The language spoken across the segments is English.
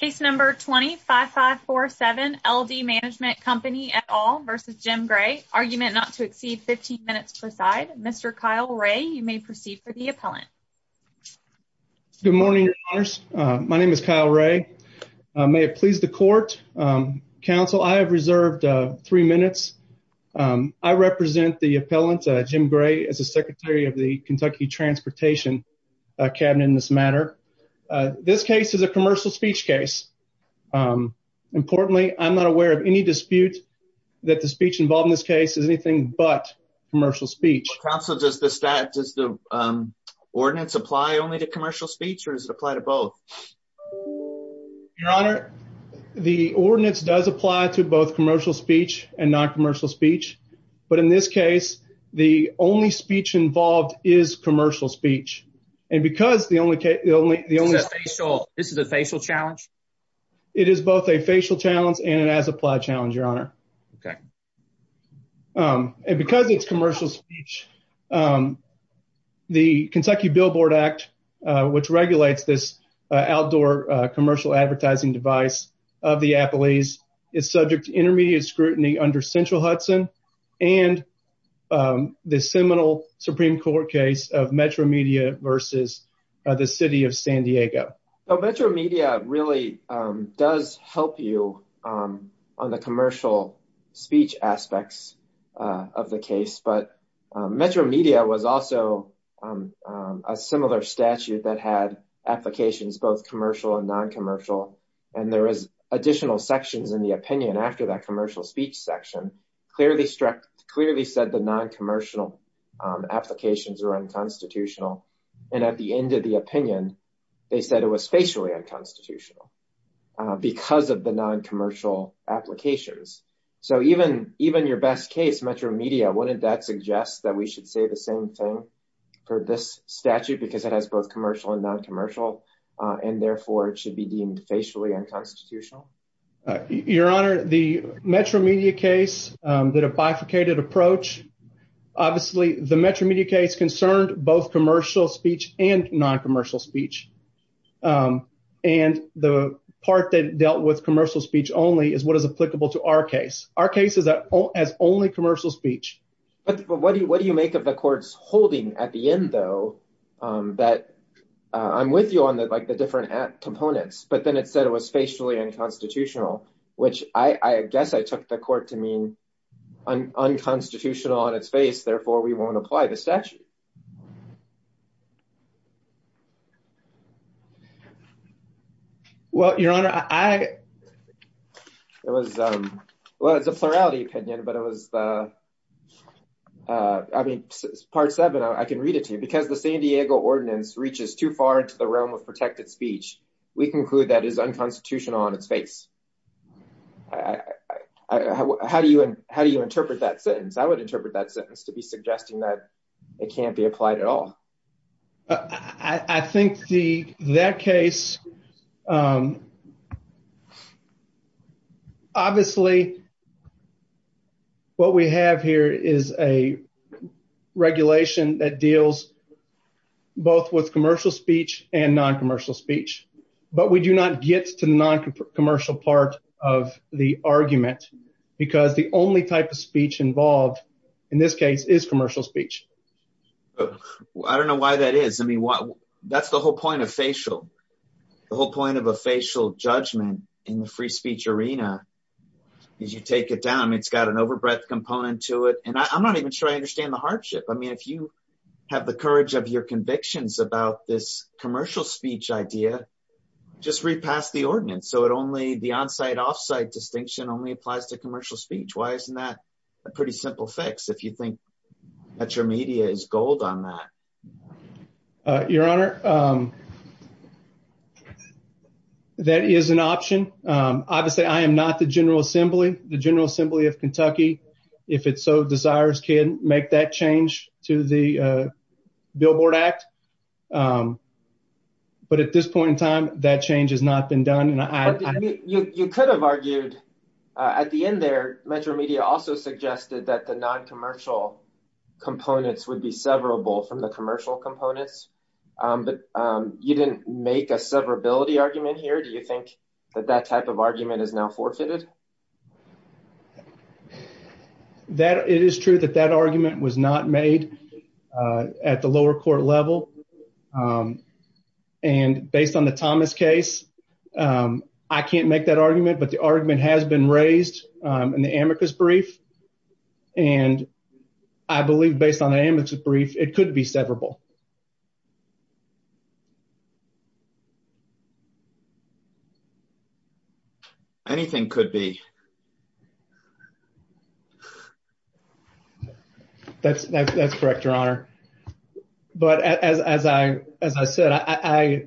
Case number 25547 LD Management Company et al. v. Jim Gray. Argument not to exceed 15 minutes per side. Mr. Kyle Ray, you may proceed for the appellant. Good morning, your honors. My name is Kyle Ray. May it please the court, counsel, I have reserved three minutes. I represent the appellant, Jim Gray, as the secretary of the Kentucky Transportation Cabinet in this matter. This case is a commercial speech case. Importantly, I'm not aware of any dispute that the speech involved in this case is anything but commercial speech. Counsel, does the ordinance apply only to commercial speech or does it apply to both? Your honor, the ordinance does apply to both commercial speech and non-commercial speech, but in this case, the only speech involved is commercial speech. This is a facial challenge? It is both a facial challenge and an as-applied challenge, your honor. Okay. And because it's commercial speech, the Kentucky Billboard Act, which regulates this outdoor commercial advertising device of the appellees, is subject to intermediate scrutiny under Central Hudson and the seminal Supreme Court case of Metromedia versus the City of San Diego. Now, Metromedia really does help you on the commercial speech aspects of the case, but Metromedia was also a similar statute that had applications both commercial and non-commercial, and there is additional sections in the opinion after that commercial speech section clearly said the non-commercial applications are unconstitutional. And at the end of the opinion, they said it was facially unconstitutional because of the non-commercial applications. So even your best case, Metromedia, wouldn't that suggest that we should say the same thing for this statute because it has both commercial and non-commercial, and therefore it should be deemed facially unconstitutional? Your honor, the Metromedia case, the bifurcated approach, obviously the Metromedia case concerned both commercial speech and non-commercial speech, and the part that dealt with commercial speech only is what is applicable to our case. Our case has only commercial speech. But what do you make of the court's holding at the end, though, that I'm with you on the different components, but then it said it was facially unconstitutional, which I guess I took the court to mean unconstitutional on its face, therefore we won't apply the statute. Well, your honor, I, it was, well, it's a plurality opinion, but it was the, I mean, part seven, I can read it to you. Because the San Diego ordinance reaches too far into the realm of protected speech, we conclude that is unconstitutional on its face. How do you, how do you interpret that sentence? I would interpret that sentence to be suggesting it can't be applied at all. I think the, that case, obviously what we have here is a regulation that deals both with commercial speech and non-commercial speech, but we do not get to the non-commercial part of the argument, because the only type of speech involved in this case is commercial speech. I don't know why that is. I mean, that's the whole point of facial, the whole point of a facial judgment in the free speech arena is you take it down. I mean, it's got an overbreadth component to it. And I'm not even sure I understand the hardship. I mean, if you have the courage of your convictions about this commercial speech idea, just repass the ordinance. So it only, the on-site off-site distinction only applies to commercial speech. Why isn't that a pretty simple fix if you think that your media is gold on that? Your honor, that is an option. Obviously I am not the general assembly, the general assembly of Kentucky, if it so desires can make that change to the billboard act. But at this point in time, that change has not been done. You could have argued at the end there, Metro Media also suggested that the non-commercial components would be severable from the commercial components, but you didn't make a severability argument here. Do you think that that type of argument is now forfeited? It is true that that argument was not made at the lower court level. And based on the Thomas case, I can't make that argument, but the argument has been raised in the amicus brief. And I believe based on the amicus brief, it could be severable. Anything could be. That's correct, your honor. But as I said, I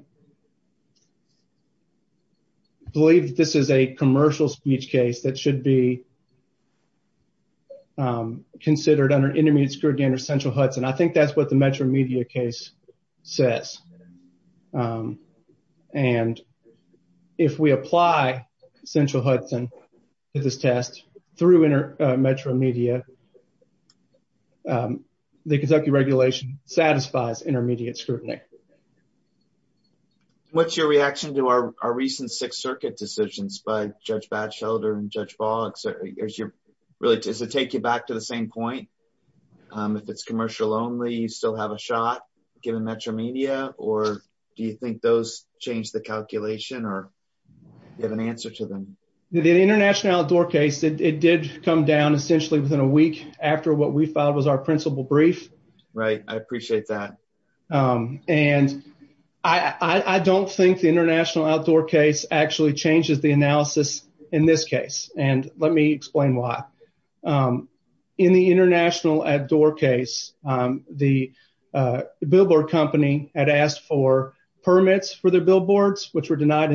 believe this is a commercial speech case that should be considered under intermediate scrutiny under central Hudson. I think that's what the Metro through Metro Media, the Kentucky regulation satisfies intermediate scrutiny. What's your reaction to our recent Sixth Circuit decisions by Judge Batchelder and Judge Boggs? Does it take you back to the same point? If it's commercial only, you still have a shot given Metro Media, or do you think those changed the calculation or you have an answer to them? The International Outdoor case, it did come down essentially within a week after what we filed was our principal brief. Right. I appreciate that. And I don't think the International Outdoor case actually changes the analysis in this case. And let me explain why. In the International Outdoor case, the billboard company had asked for billboards. Both were denied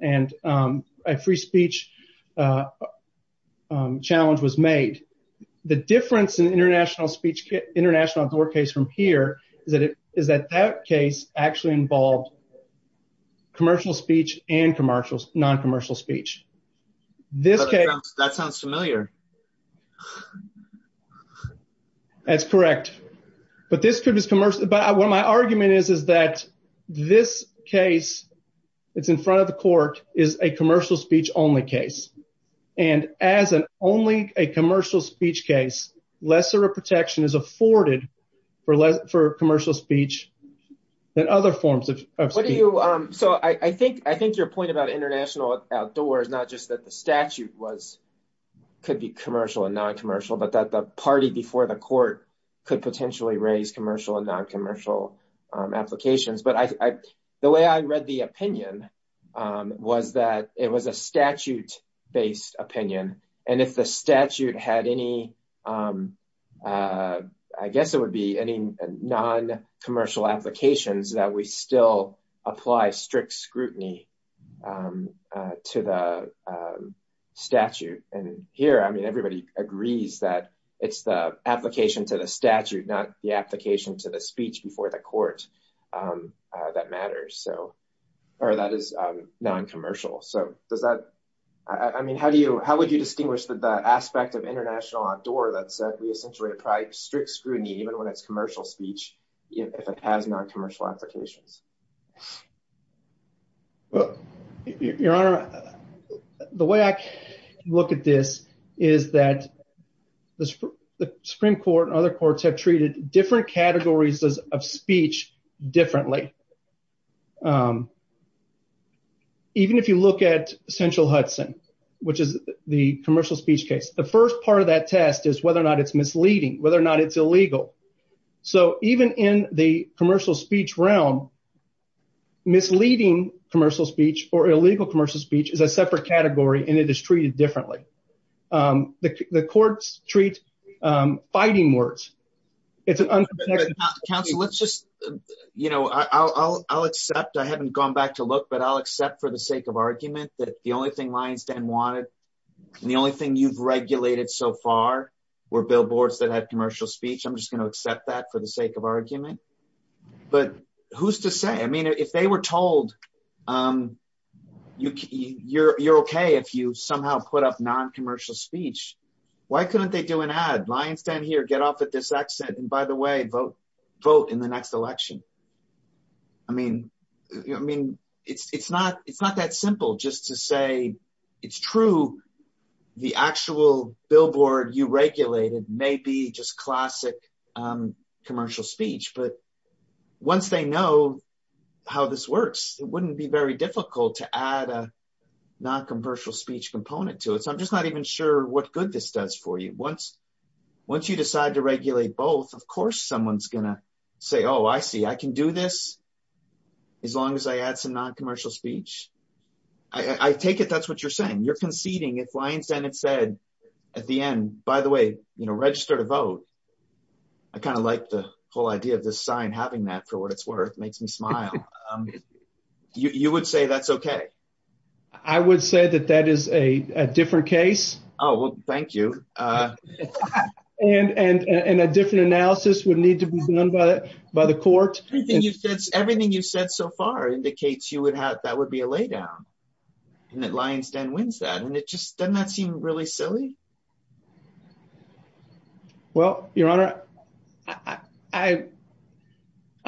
and a free speech challenge was made. The difference in International Outdoor case from here is that that case actually involved commercial speech and non-commercial speech. That sounds familiar. That's correct. But this could be commercial. But what my argument is, is that this case, it's in front of the court, is a commercial speech only case. And as an only a commercial speech case, lesser protection is afforded for commercial speech than other forms of speech. So I think your point about International Outdoor is not just that the statute was could be commercial and non-commercial, but that the party before the court could potentially raise commercial and non-commercial applications. But the way I read the opinion was that it was a statute based opinion. And if the statute had any, I guess it would be any non-commercial applications that we still apply strict scrutiny to the statute. And here, I mean, everybody agrees that it's the application to the statute, not the application to the speech before the court that matters. So, or that is non-commercial. So does that, I mean, how do you, how would you distinguish the aspect of International Outdoor that said we essentially apply strict scrutiny even when it's commercial speech, if it has non-commercial applications? Your Honor, the way I look at this is that the Supreme Court and other courts have treated different categories of speech differently. Even if you look at Central Hudson, which is the commercial speech case, the first part of that test is whether or not it's misleading, whether or not it's illegal. So even in the commercial speech realm, misleading commercial speech or illegal commercial speech is a separate category and it is treated differently. The courts treat fighting words. It's an unprotected... Counsel, let's just, you know, I'll accept, I haven't gone back to look, but I'll accept for the sake of argument that the only thing so far were billboards that had commercial speech. I'm just going to accept that for the sake of argument, but who's to say, I mean, if they were told, you're okay if you somehow put up non-commercial speech, why couldn't they do an ad? Lie and stand here, get off at this exit, and by the way, vote in the next election. I mean, it's not that simple just to say it's true. The actual billboard you regulated may be just classic commercial speech, but once they know how this works, it wouldn't be very difficult to add a non-commercial speech component to it. So I'm just not even sure what good this does for you. Once you decide to regulate both, of course, someone's going to say, oh, I see, I can do this as long as I add some non-commercial speech. I take it that's what you're saying. You're conceding. If Lie and stand had said at the end, by the way, register to vote, I kind of like the whole idea of this sign having that for what it's worth, makes me smile. You would say that's okay? I would say that that is a different case. Oh, well, thank you. And a different analysis would need to be done by the court. Everything you've said so far indicates that would be a lay down and that Lie and stand wins that. And it just does not seem really silly. Well, your honor, I'm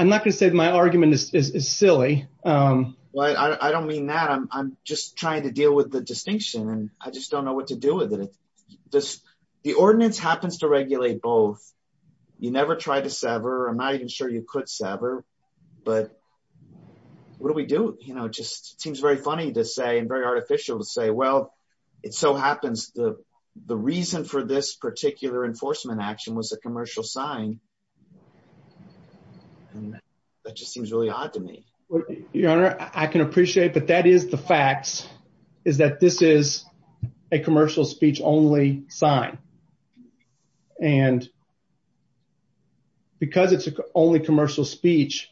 not going to say my argument is silly. Well, I don't mean that. I'm just trying to deal with the distinction and I just don't know what to do with it. The ordinance happens to regulate both. You never try to sever. I'm not even sure you could sever, but what do we do? It just seems very funny to say and very artificial to say, well, it so happens the reason for this particular enforcement action was a commercial sign. And that just seems really odd to me. Your honor, I can appreciate, but that is the facts is that this is a commercial speech only sign. And because it's only commercial speech,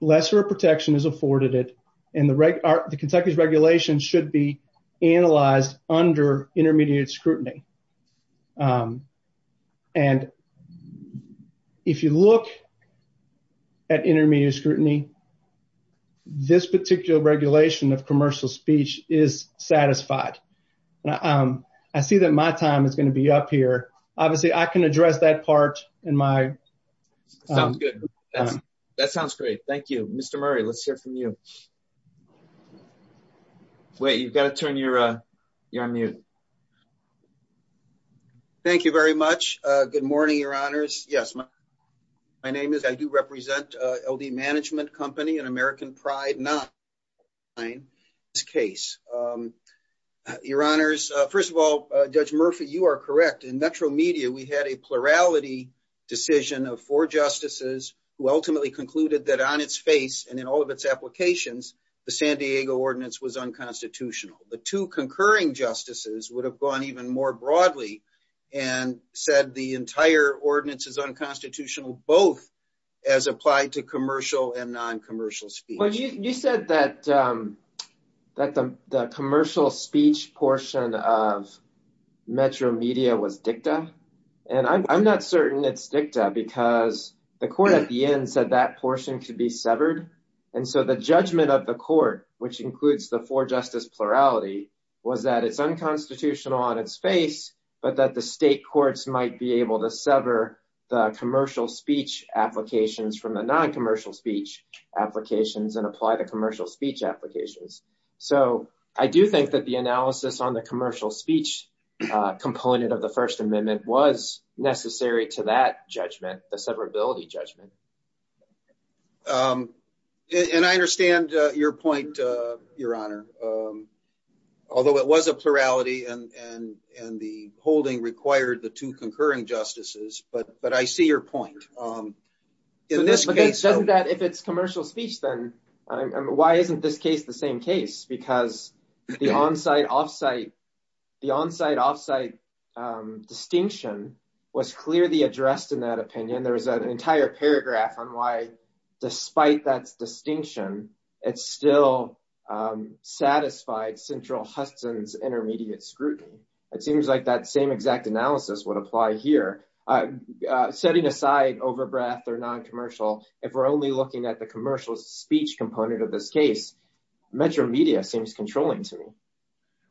lesser protection is afforded it. And the Kentucky's regulation should be analyzed under intermediate scrutiny. And if you look at intermediate scrutiny, this particular regulation of commercial speech is satisfied. I see that my time is going to be up here. Obviously I can address that part in my. Sounds good. That sounds great. Thank you, Mr. Murray. Let's hear from you. Wait, you've got to turn your mute. Thank you very much. Good morning, your honors. Yes. My name is, I do represent LD management company and American pride, not this case, your honors. First of all, judge Murphy, you are correct. In Metro media, we had a plurality decision of four justices who ultimately concluded that on its face and in all of its applications, the San Diego ordinance was unconstitutional. The two concurring justices would have gone even more broadly and said the entire ordinance is unconstitutional, both as applied to commercial and non-commercial speech. You said that the commercial speech portion of Metro media was dicta. And I'm not certain it's dicta because the court at the end said that portion could be severed. And so the judgment of the court, which includes the four justice plurality was that it's unconstitutional on its face, but that the state courts might be able to sever the commercial speech applications from the non-commercial speech applications and apply the commercial speech applications. So I do think that the analysis on the commercial speech component of the first amendment was necessary to that judgment, the severability judgment. And I understand your point, your honor. Although it was a plurality and the holding required the two concurring justices, but I see your point. In this case- But doesn't that, if it's commercial speech, then why isn't this case the same case? Because the on-site, off-site distinction was clearly addressed in that opinion. There was an entire paragraph on why, despite that distinction, it still satisfied central Huston's intermediate scrutiny. It seems like that same exact analysis would apply here. Setting aside over-breath or non-commercial, if we're only looking at the commercial speech component of this case, Metro media seems controlling to me.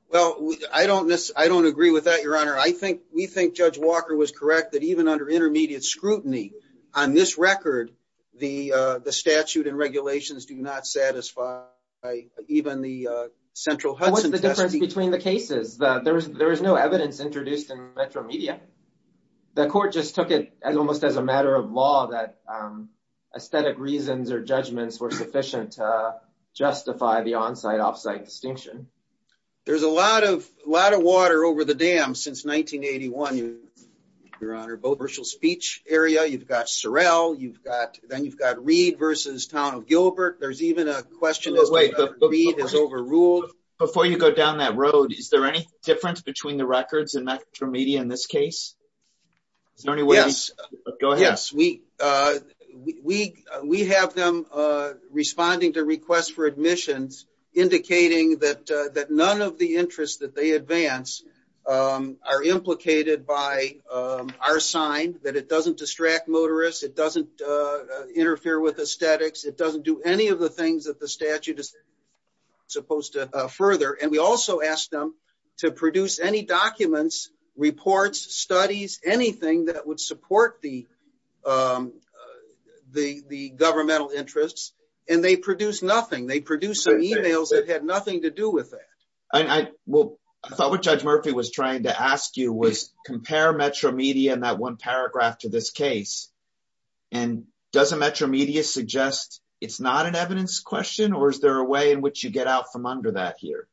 Well, I don't agree with that, your honor. We think Judge Walker was correct that even under intermediate scrutiny, on this record, the statute and regulations do not satisfy even the central Hudson- What's the difference between the cases? There was no evidence introduced in Metro media. The court just took it almost as a matter of law that aesthetic reasons or judgments were sufficient to justify the on-site, off-site distinction. There's a lot of water over the 1981 commercial speech area. You've got Sorrell. Then you've got Reed versus Town of Gilbert. There's even a question as to whether Reed has overruled- Before you go down that road, is there any difference between the records in Metro media in this case? Go ahead. Yes. We have them responding to requests for admissions indicating that none of the interests that they advance are implicated by our sign, that it doesn't distract motorists, it doesn't interfere with aesthetics, it doesn't do any of the things that the statute is supposed to further. We also ask them to produce any documents, reports, studies, anything that would support the governmental interests. They produce nothing. They produce some emails that had nothing to do with that. I thought what Judge Murphy was trying to ask you was compare Metro media in that one paragraph to this case. Does a Metro media suggest it's not an evidence question or is there a way in which you get out from under that here?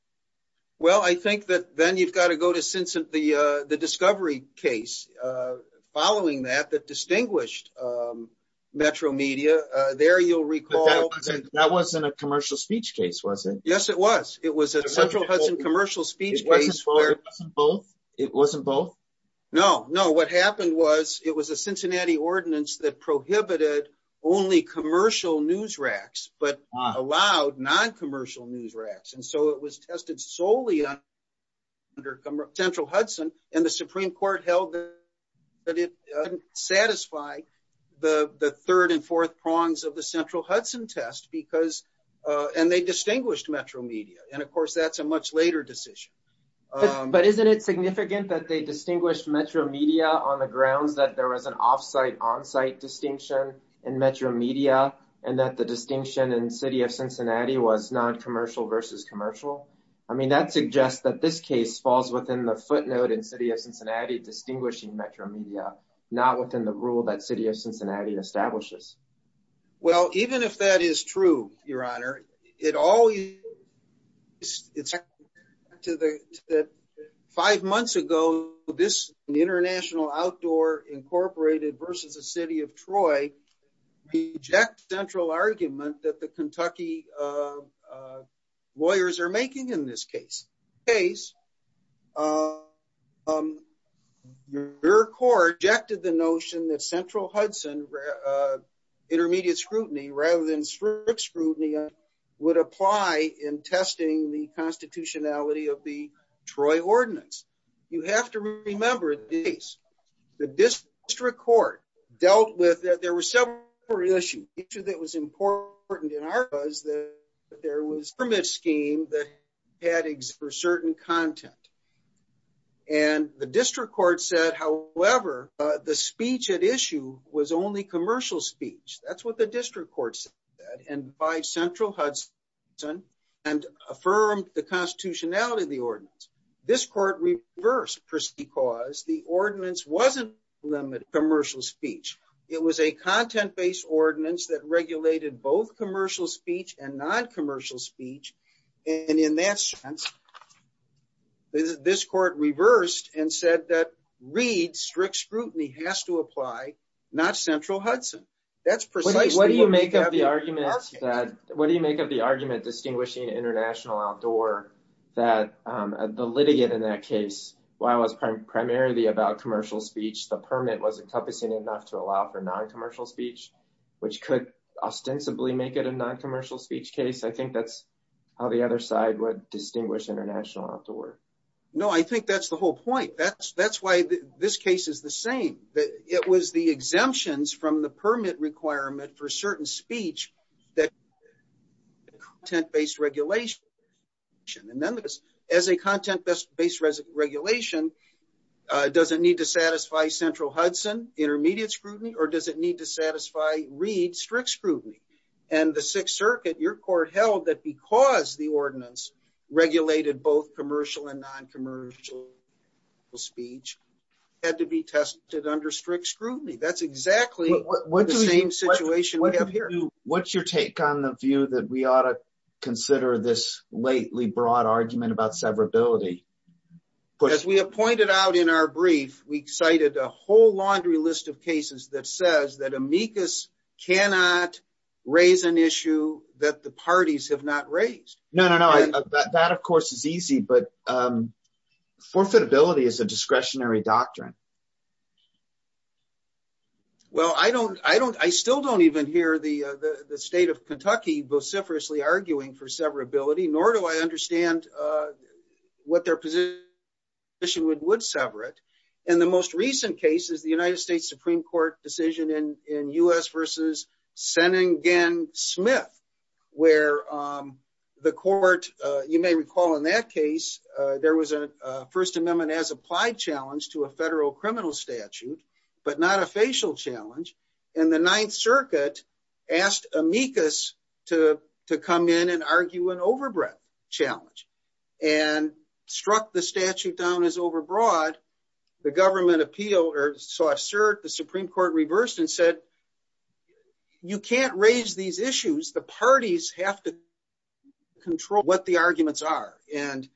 I think that then you've got to go to since the discovery case following that that distinguished Metro media. There you'll recall- That wasn't a commercial speech case, was it? Yes, it was. It was a Central Hudson commercial speech case. It wasn't both? No. What happened was it was a Cincinnati ordinance that prohibited only commercial news racks but allowed non-commercial news racks. It was tested solely under Central Hudson and the Supreme Court held that it didn't satisfy the third and fourth prongs of the Central Hudson test and they distinguished Metro media. Of course, that's a much later decision. Isn't it significant that they distinguished Metro media on the grounds that there was an off-site on-site distinction in Metro media and that the distinction in the City of Cincinnati was non-commercial versus commercial? That suggests that this case falls within the footnote in the City of Cincinnati distinguishing Metro media, not within the rule that the City of is true, Your Honor. Five months ago, this International Outdoor Incorporated versus the City of Troy rejects the central argument that the Kentucky lawyers are making in this case. Your Court rejected the notion that Central Hudson intermediate scrutiny rather than strict scrutiny would apply in testing the constitutionality of the Troy ordinance. You have to remember this. The district court dealt with that. There were several issues that was important in that there was a permit scheme that had for certain content and the district court said, however, the speech at issue was only commercial speech. That's what the district court said and by Central Hudson and affirmed the constitutionality of the ordinance. This court reversed because the ordinance wasn't limited to commercial speech. It was a content-based ordinance that regulated both commercial speech and non-commercial speech. In that sense, this court reversed and said that Reed strict scrutiny has to apply, not Central Hudson. What do you make of the argument distinguishing International Outdoor that the litigant in that case, while it was primarily about commercial speech, the permit was encompassing enough to allow for non-commercial speech, which could ostensibly make it a non-commercial speech case. I think that's how the other side would distinguish International Outdoor. No, I think that's the whole point. That's why this case is the same. It was the exemptions from the permit requirement for certain speech that content-based regulation. As a content-based regulation, does it need to satisfy Central Hudson intermediate scrutiny or does it need to satisfy Reed strict scrutiny? The Sixth Circuit, your court held that because the ordinance regulated both commercial and non-commercial speech had to be tested under strict scrutiny. That's exactly the same situation we have here. What's your take on the view that we ought to in our brief, we cited a whole laundry list of cases that says that amicus cannot raise an issue that the parties have not raised. No, that of course is easy, but forfeitability is a discretionary doctrine. Well, I still don't even hear the state of Kentucky vociferously arguing for severability, nor do I understand what their position would sever it. In the most recent cases, the United States Supreme Court decision in U.S. versus Seningen Smith, where the court, you may recall in that case, there was a First Amendment as applied challenge to a federal criminal statute, but not a facial challenge. And the Ninth Circuit asked amicus to come in argue an overbreadth challenge and struck the statute down as overbroad. The government appeal, or so I assert the Supreme Court reversed and said, you can't raise these issues. The parties have to control what the arguments are. And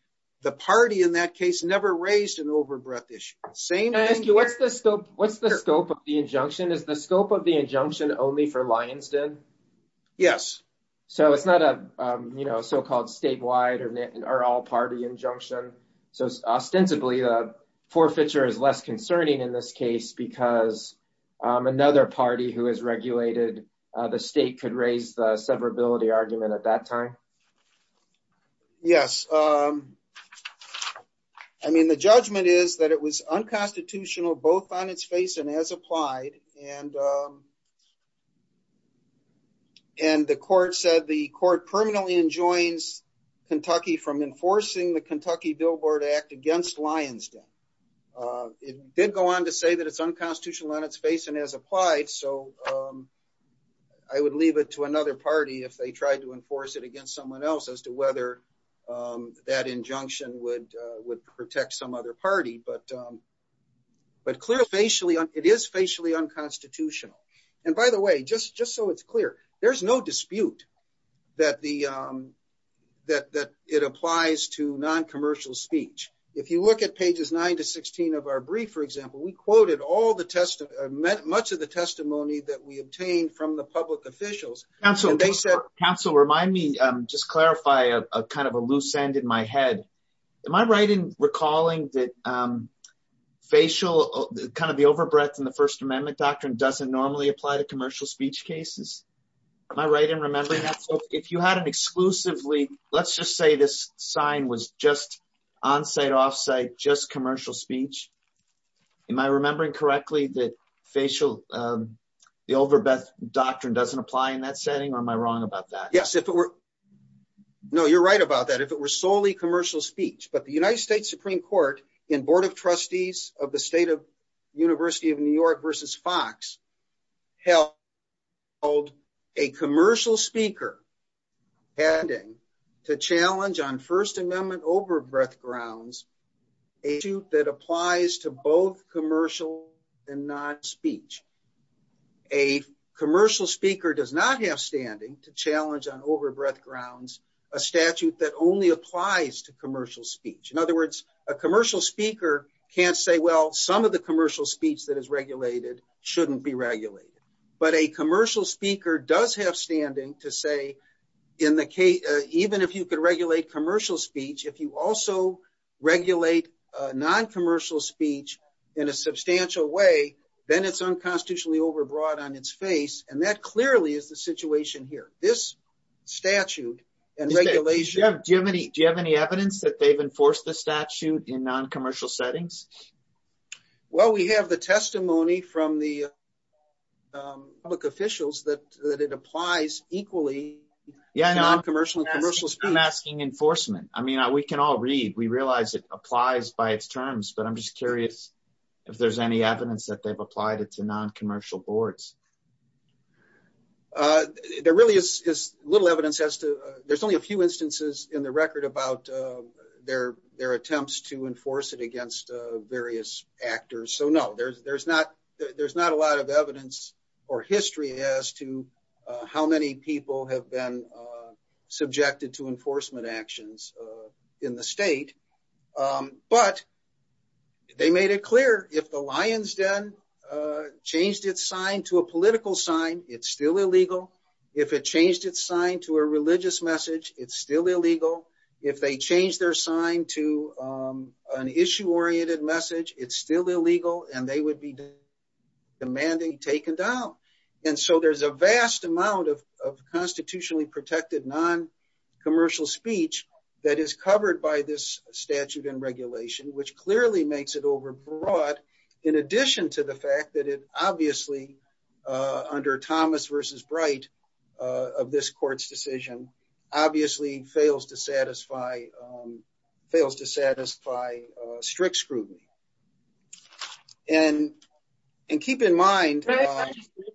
the party in that case never raised an overbreadth issue. I ask you, what's the scope of the injunction? Is the scope of the injunction only for Lyonsden? Yes. So it's not a so-called statewide or all-party injunction. So ostensibly, the forfeiture is less concerning in this case because another party who has regulated the state could raise the severability argument at that time? Yes. I mean, the judgment is that it was unconstitutional both on its face and as applied. And the court said the court permanently enjoins Kentucky from enforcing the Kentucky Billboard Act against Lyonsden. It did go on to say that it's unconstitutional on its face and as applied. So I would leave it to another party if they tried to enforce it against someone else as to whether that injunction would protect some other party. But it is facially unconstitutional. And by the way, just so it's clear, there's no dispute that it applies to non-commercial speech. If you look at pages 9 to 16 of our brief, for example, we quoted much of the testimony that we obtained from the public officials. Counsel, remind me, just clarify a kind of a loose end in my head. Am I right in recalling that facial kind of the overbreath in the First Amendment doctrine doesn't normally apply to commercial speech cases? Am I right in remembering that? So if you had an exclusively, let's just say this sign was just on-site, off-site, just commercial speech. Am I remembering correctly that facial, the overbreath doctrine doesn't apply in that setting or am I wrong about that? Yes, if it were. No, you're right about that. If it were solely commercial speech. But the United States Supreme Court in Board of Trustees of the State of University of New York versus Fox held a commercial speaker pending to challenge on First Amendment overbreath grounds a suit that applies to both commercial and non-speech. A commercial speaker does not have standing to challenge on overbreath grounds a statute that only applies to commercial speech. In other words, a commercial speaker can't say, well, some of the commercial speech that is regulated shouldn't be regulated. But a commercial speaker does have standing to say, even if you could regulate commercial speech, if you also regulate non-commercial speech in a substantial way, then it's unconstitutionally overbroad on its face. And that clearly is the situation here. This statute and regulation. Do you have any evidence that they've enforced the statute in non-commercial settings? Well, we have the testimony from the public officials that it applies equally in non-commercial and commercial speech. I'm asking enforcement. I mean, we can all read. We realize it applies by its terms, but I'm just curious if there's any evidence that they've applied it to non-commercial boards. There really is little evidence as to, there's only a few instances in the record about their attempts to enforce it against various actors. So no, there's not a lot of evidence or history as to how many people have been subjected to enforcement actions in the state. But they made it clear if the lion's den changed its sign to a political sign, it's still illegal. If it changed its sign to a religious message, it's still illegal. If they change their sign to an issue-oriented message, it's still illegal and they would be demanding taken down. And so there's a vast amount of constitutionally protected non-commercial speech that is covered by this statute and regulation, which clearly makes it overbrought in addition to the fact that it obviously, under Thomas versus Bright of this court's decision, obviously fails to satisfy strict scrutiny. And keep in mind... So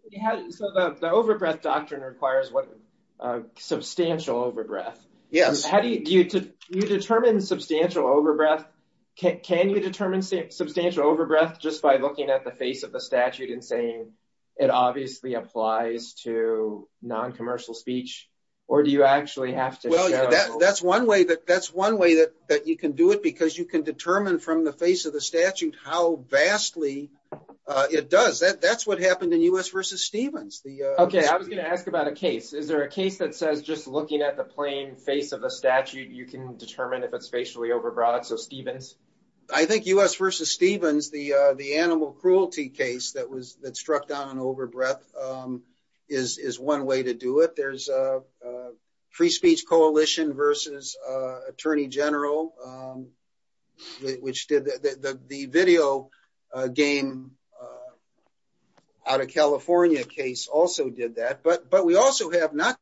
the overbreath doctrine requires what? Substantial overbreath. Yes. How do you, do you determine substantial overbreath? Can you determine substantial overbreath just by looking at the face of the statute and saying it obviously applies to non-commercial speech or do you actually have to show... Well, that's one way that you can do it because you can determine from the face of the statute how vastly it does. That's what happened in U.S. versus Stevens. Okay. I was going to ask about a case. Is there a case that says just looking at the plain face of the statute, you can determine if it's facially overbrought? So Stevens? I think U.S. versus Stevens, the animal cruelty case that struck down on overbreath is one way to do it. There's a free speech coalition versus attorney general, which did the video game out of California case also did that. But we also have not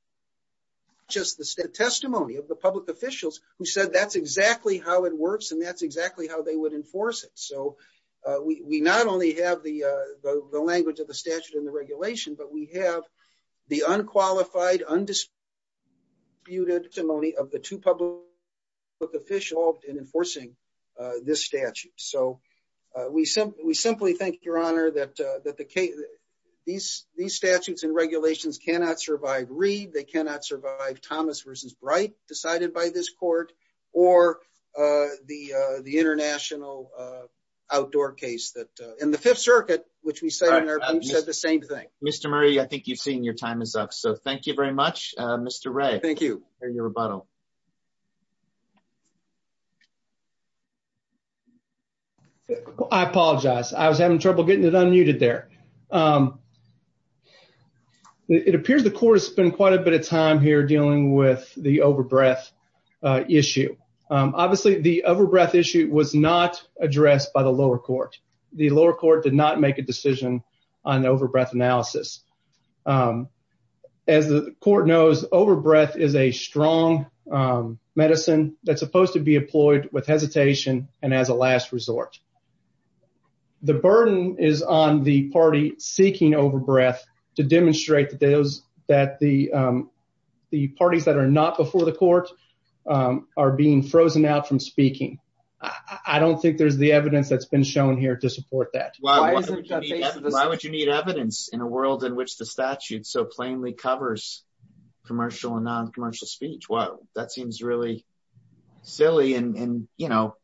just the testimony of the public officials who said that's exactly how it works and that's exactly how they would enforce it. So we not only have the language of the two public officials in enforcing this statute. So we simply think, Your Honor, that these statutes and regulations cannot survive Reed. They cannot survive Thomas versus Bright decided by this court or the international outdoor case that in the Fifth Circuit, which we said the same thing. Mr. Murray, I think you've seen your time is up. So thank you very much. Mr. Ray. Thank you for your rebuttal. I apologize. I was having trouble getting it unmuted there. It appears the court has spent quite a bit of time here dealing with the overbreath issue. Obviously, the overbreath issue was not addressed by the lower court. The lower court did not make a decision on the overbreath analysis. Um, as the court knows, overbreath is a strong medicine that's supposed to be employed with hesitation. And as a last resort, the burden is on the party seeking overbreath to demonstrate that those that the the parties that are not before the court are being frozen out from speaking. I don't think there's the evidence that's been shown here to support that. Why would you need evidence in a world in which the statute so plainly covers commercial and non commercial speech? Well, that seems really silly and, you know,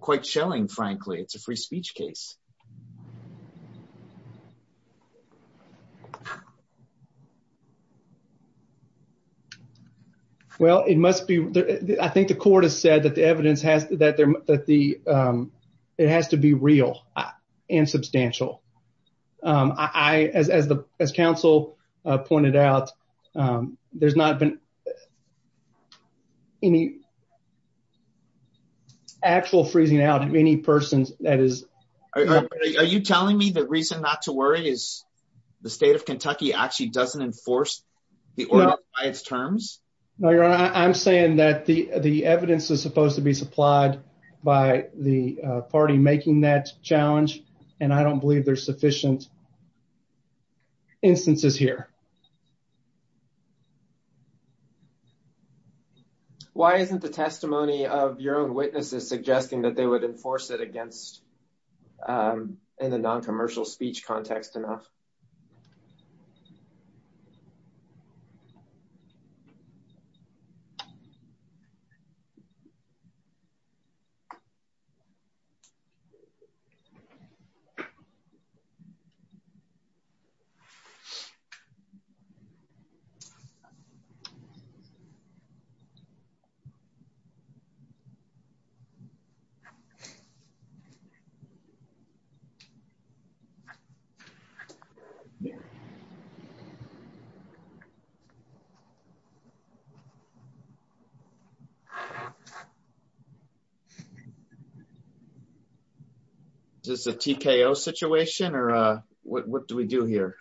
quite chilling. Frankly, it's a free speech case. Well, it must be. I think the court has said that the evidence has that it has to be real and substantial. As counsel pointed out, there's not been any actual freezing out of any person. Are you telling me the reason not to worry is the state of Kentucky actually doesn't enforce the order by its terms? No, Your Honor. I'm saying that the evidence is supposed to be supplied by the party making that challenge, and I don't believe there's sufficient instances here. Why isn't the testimony of your own witnesses suggesting that they would enforce it against in the non commercial speech context enough? Is this a TKO situation, or what do we do here?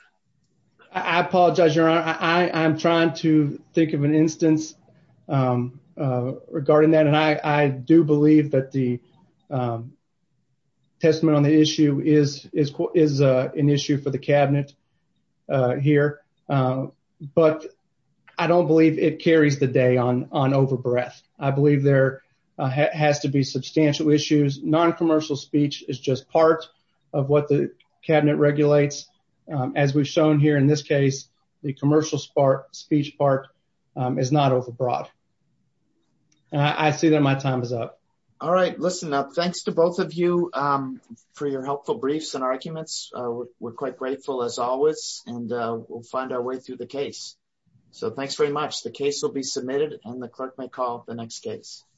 I apologize, Your Honor. I'm trying to think of an instance regarding that, and I do believe that the issue is an issue for the cabinet here, but I don't believe it carries the day on over breath. I believe there has to be substantial issues. Non commercial speech is just part of what the cabinet regulates. As we've shown here in this case, the commercial speech part is not overbroad. And I see that my time is up. All right, listen up. Thanks to both of you for your helpful briefs and arguments. We're quite grateful as always, and we'll find our way through the case. So thanks very much. The case will be submitted and the clerk may call the next case.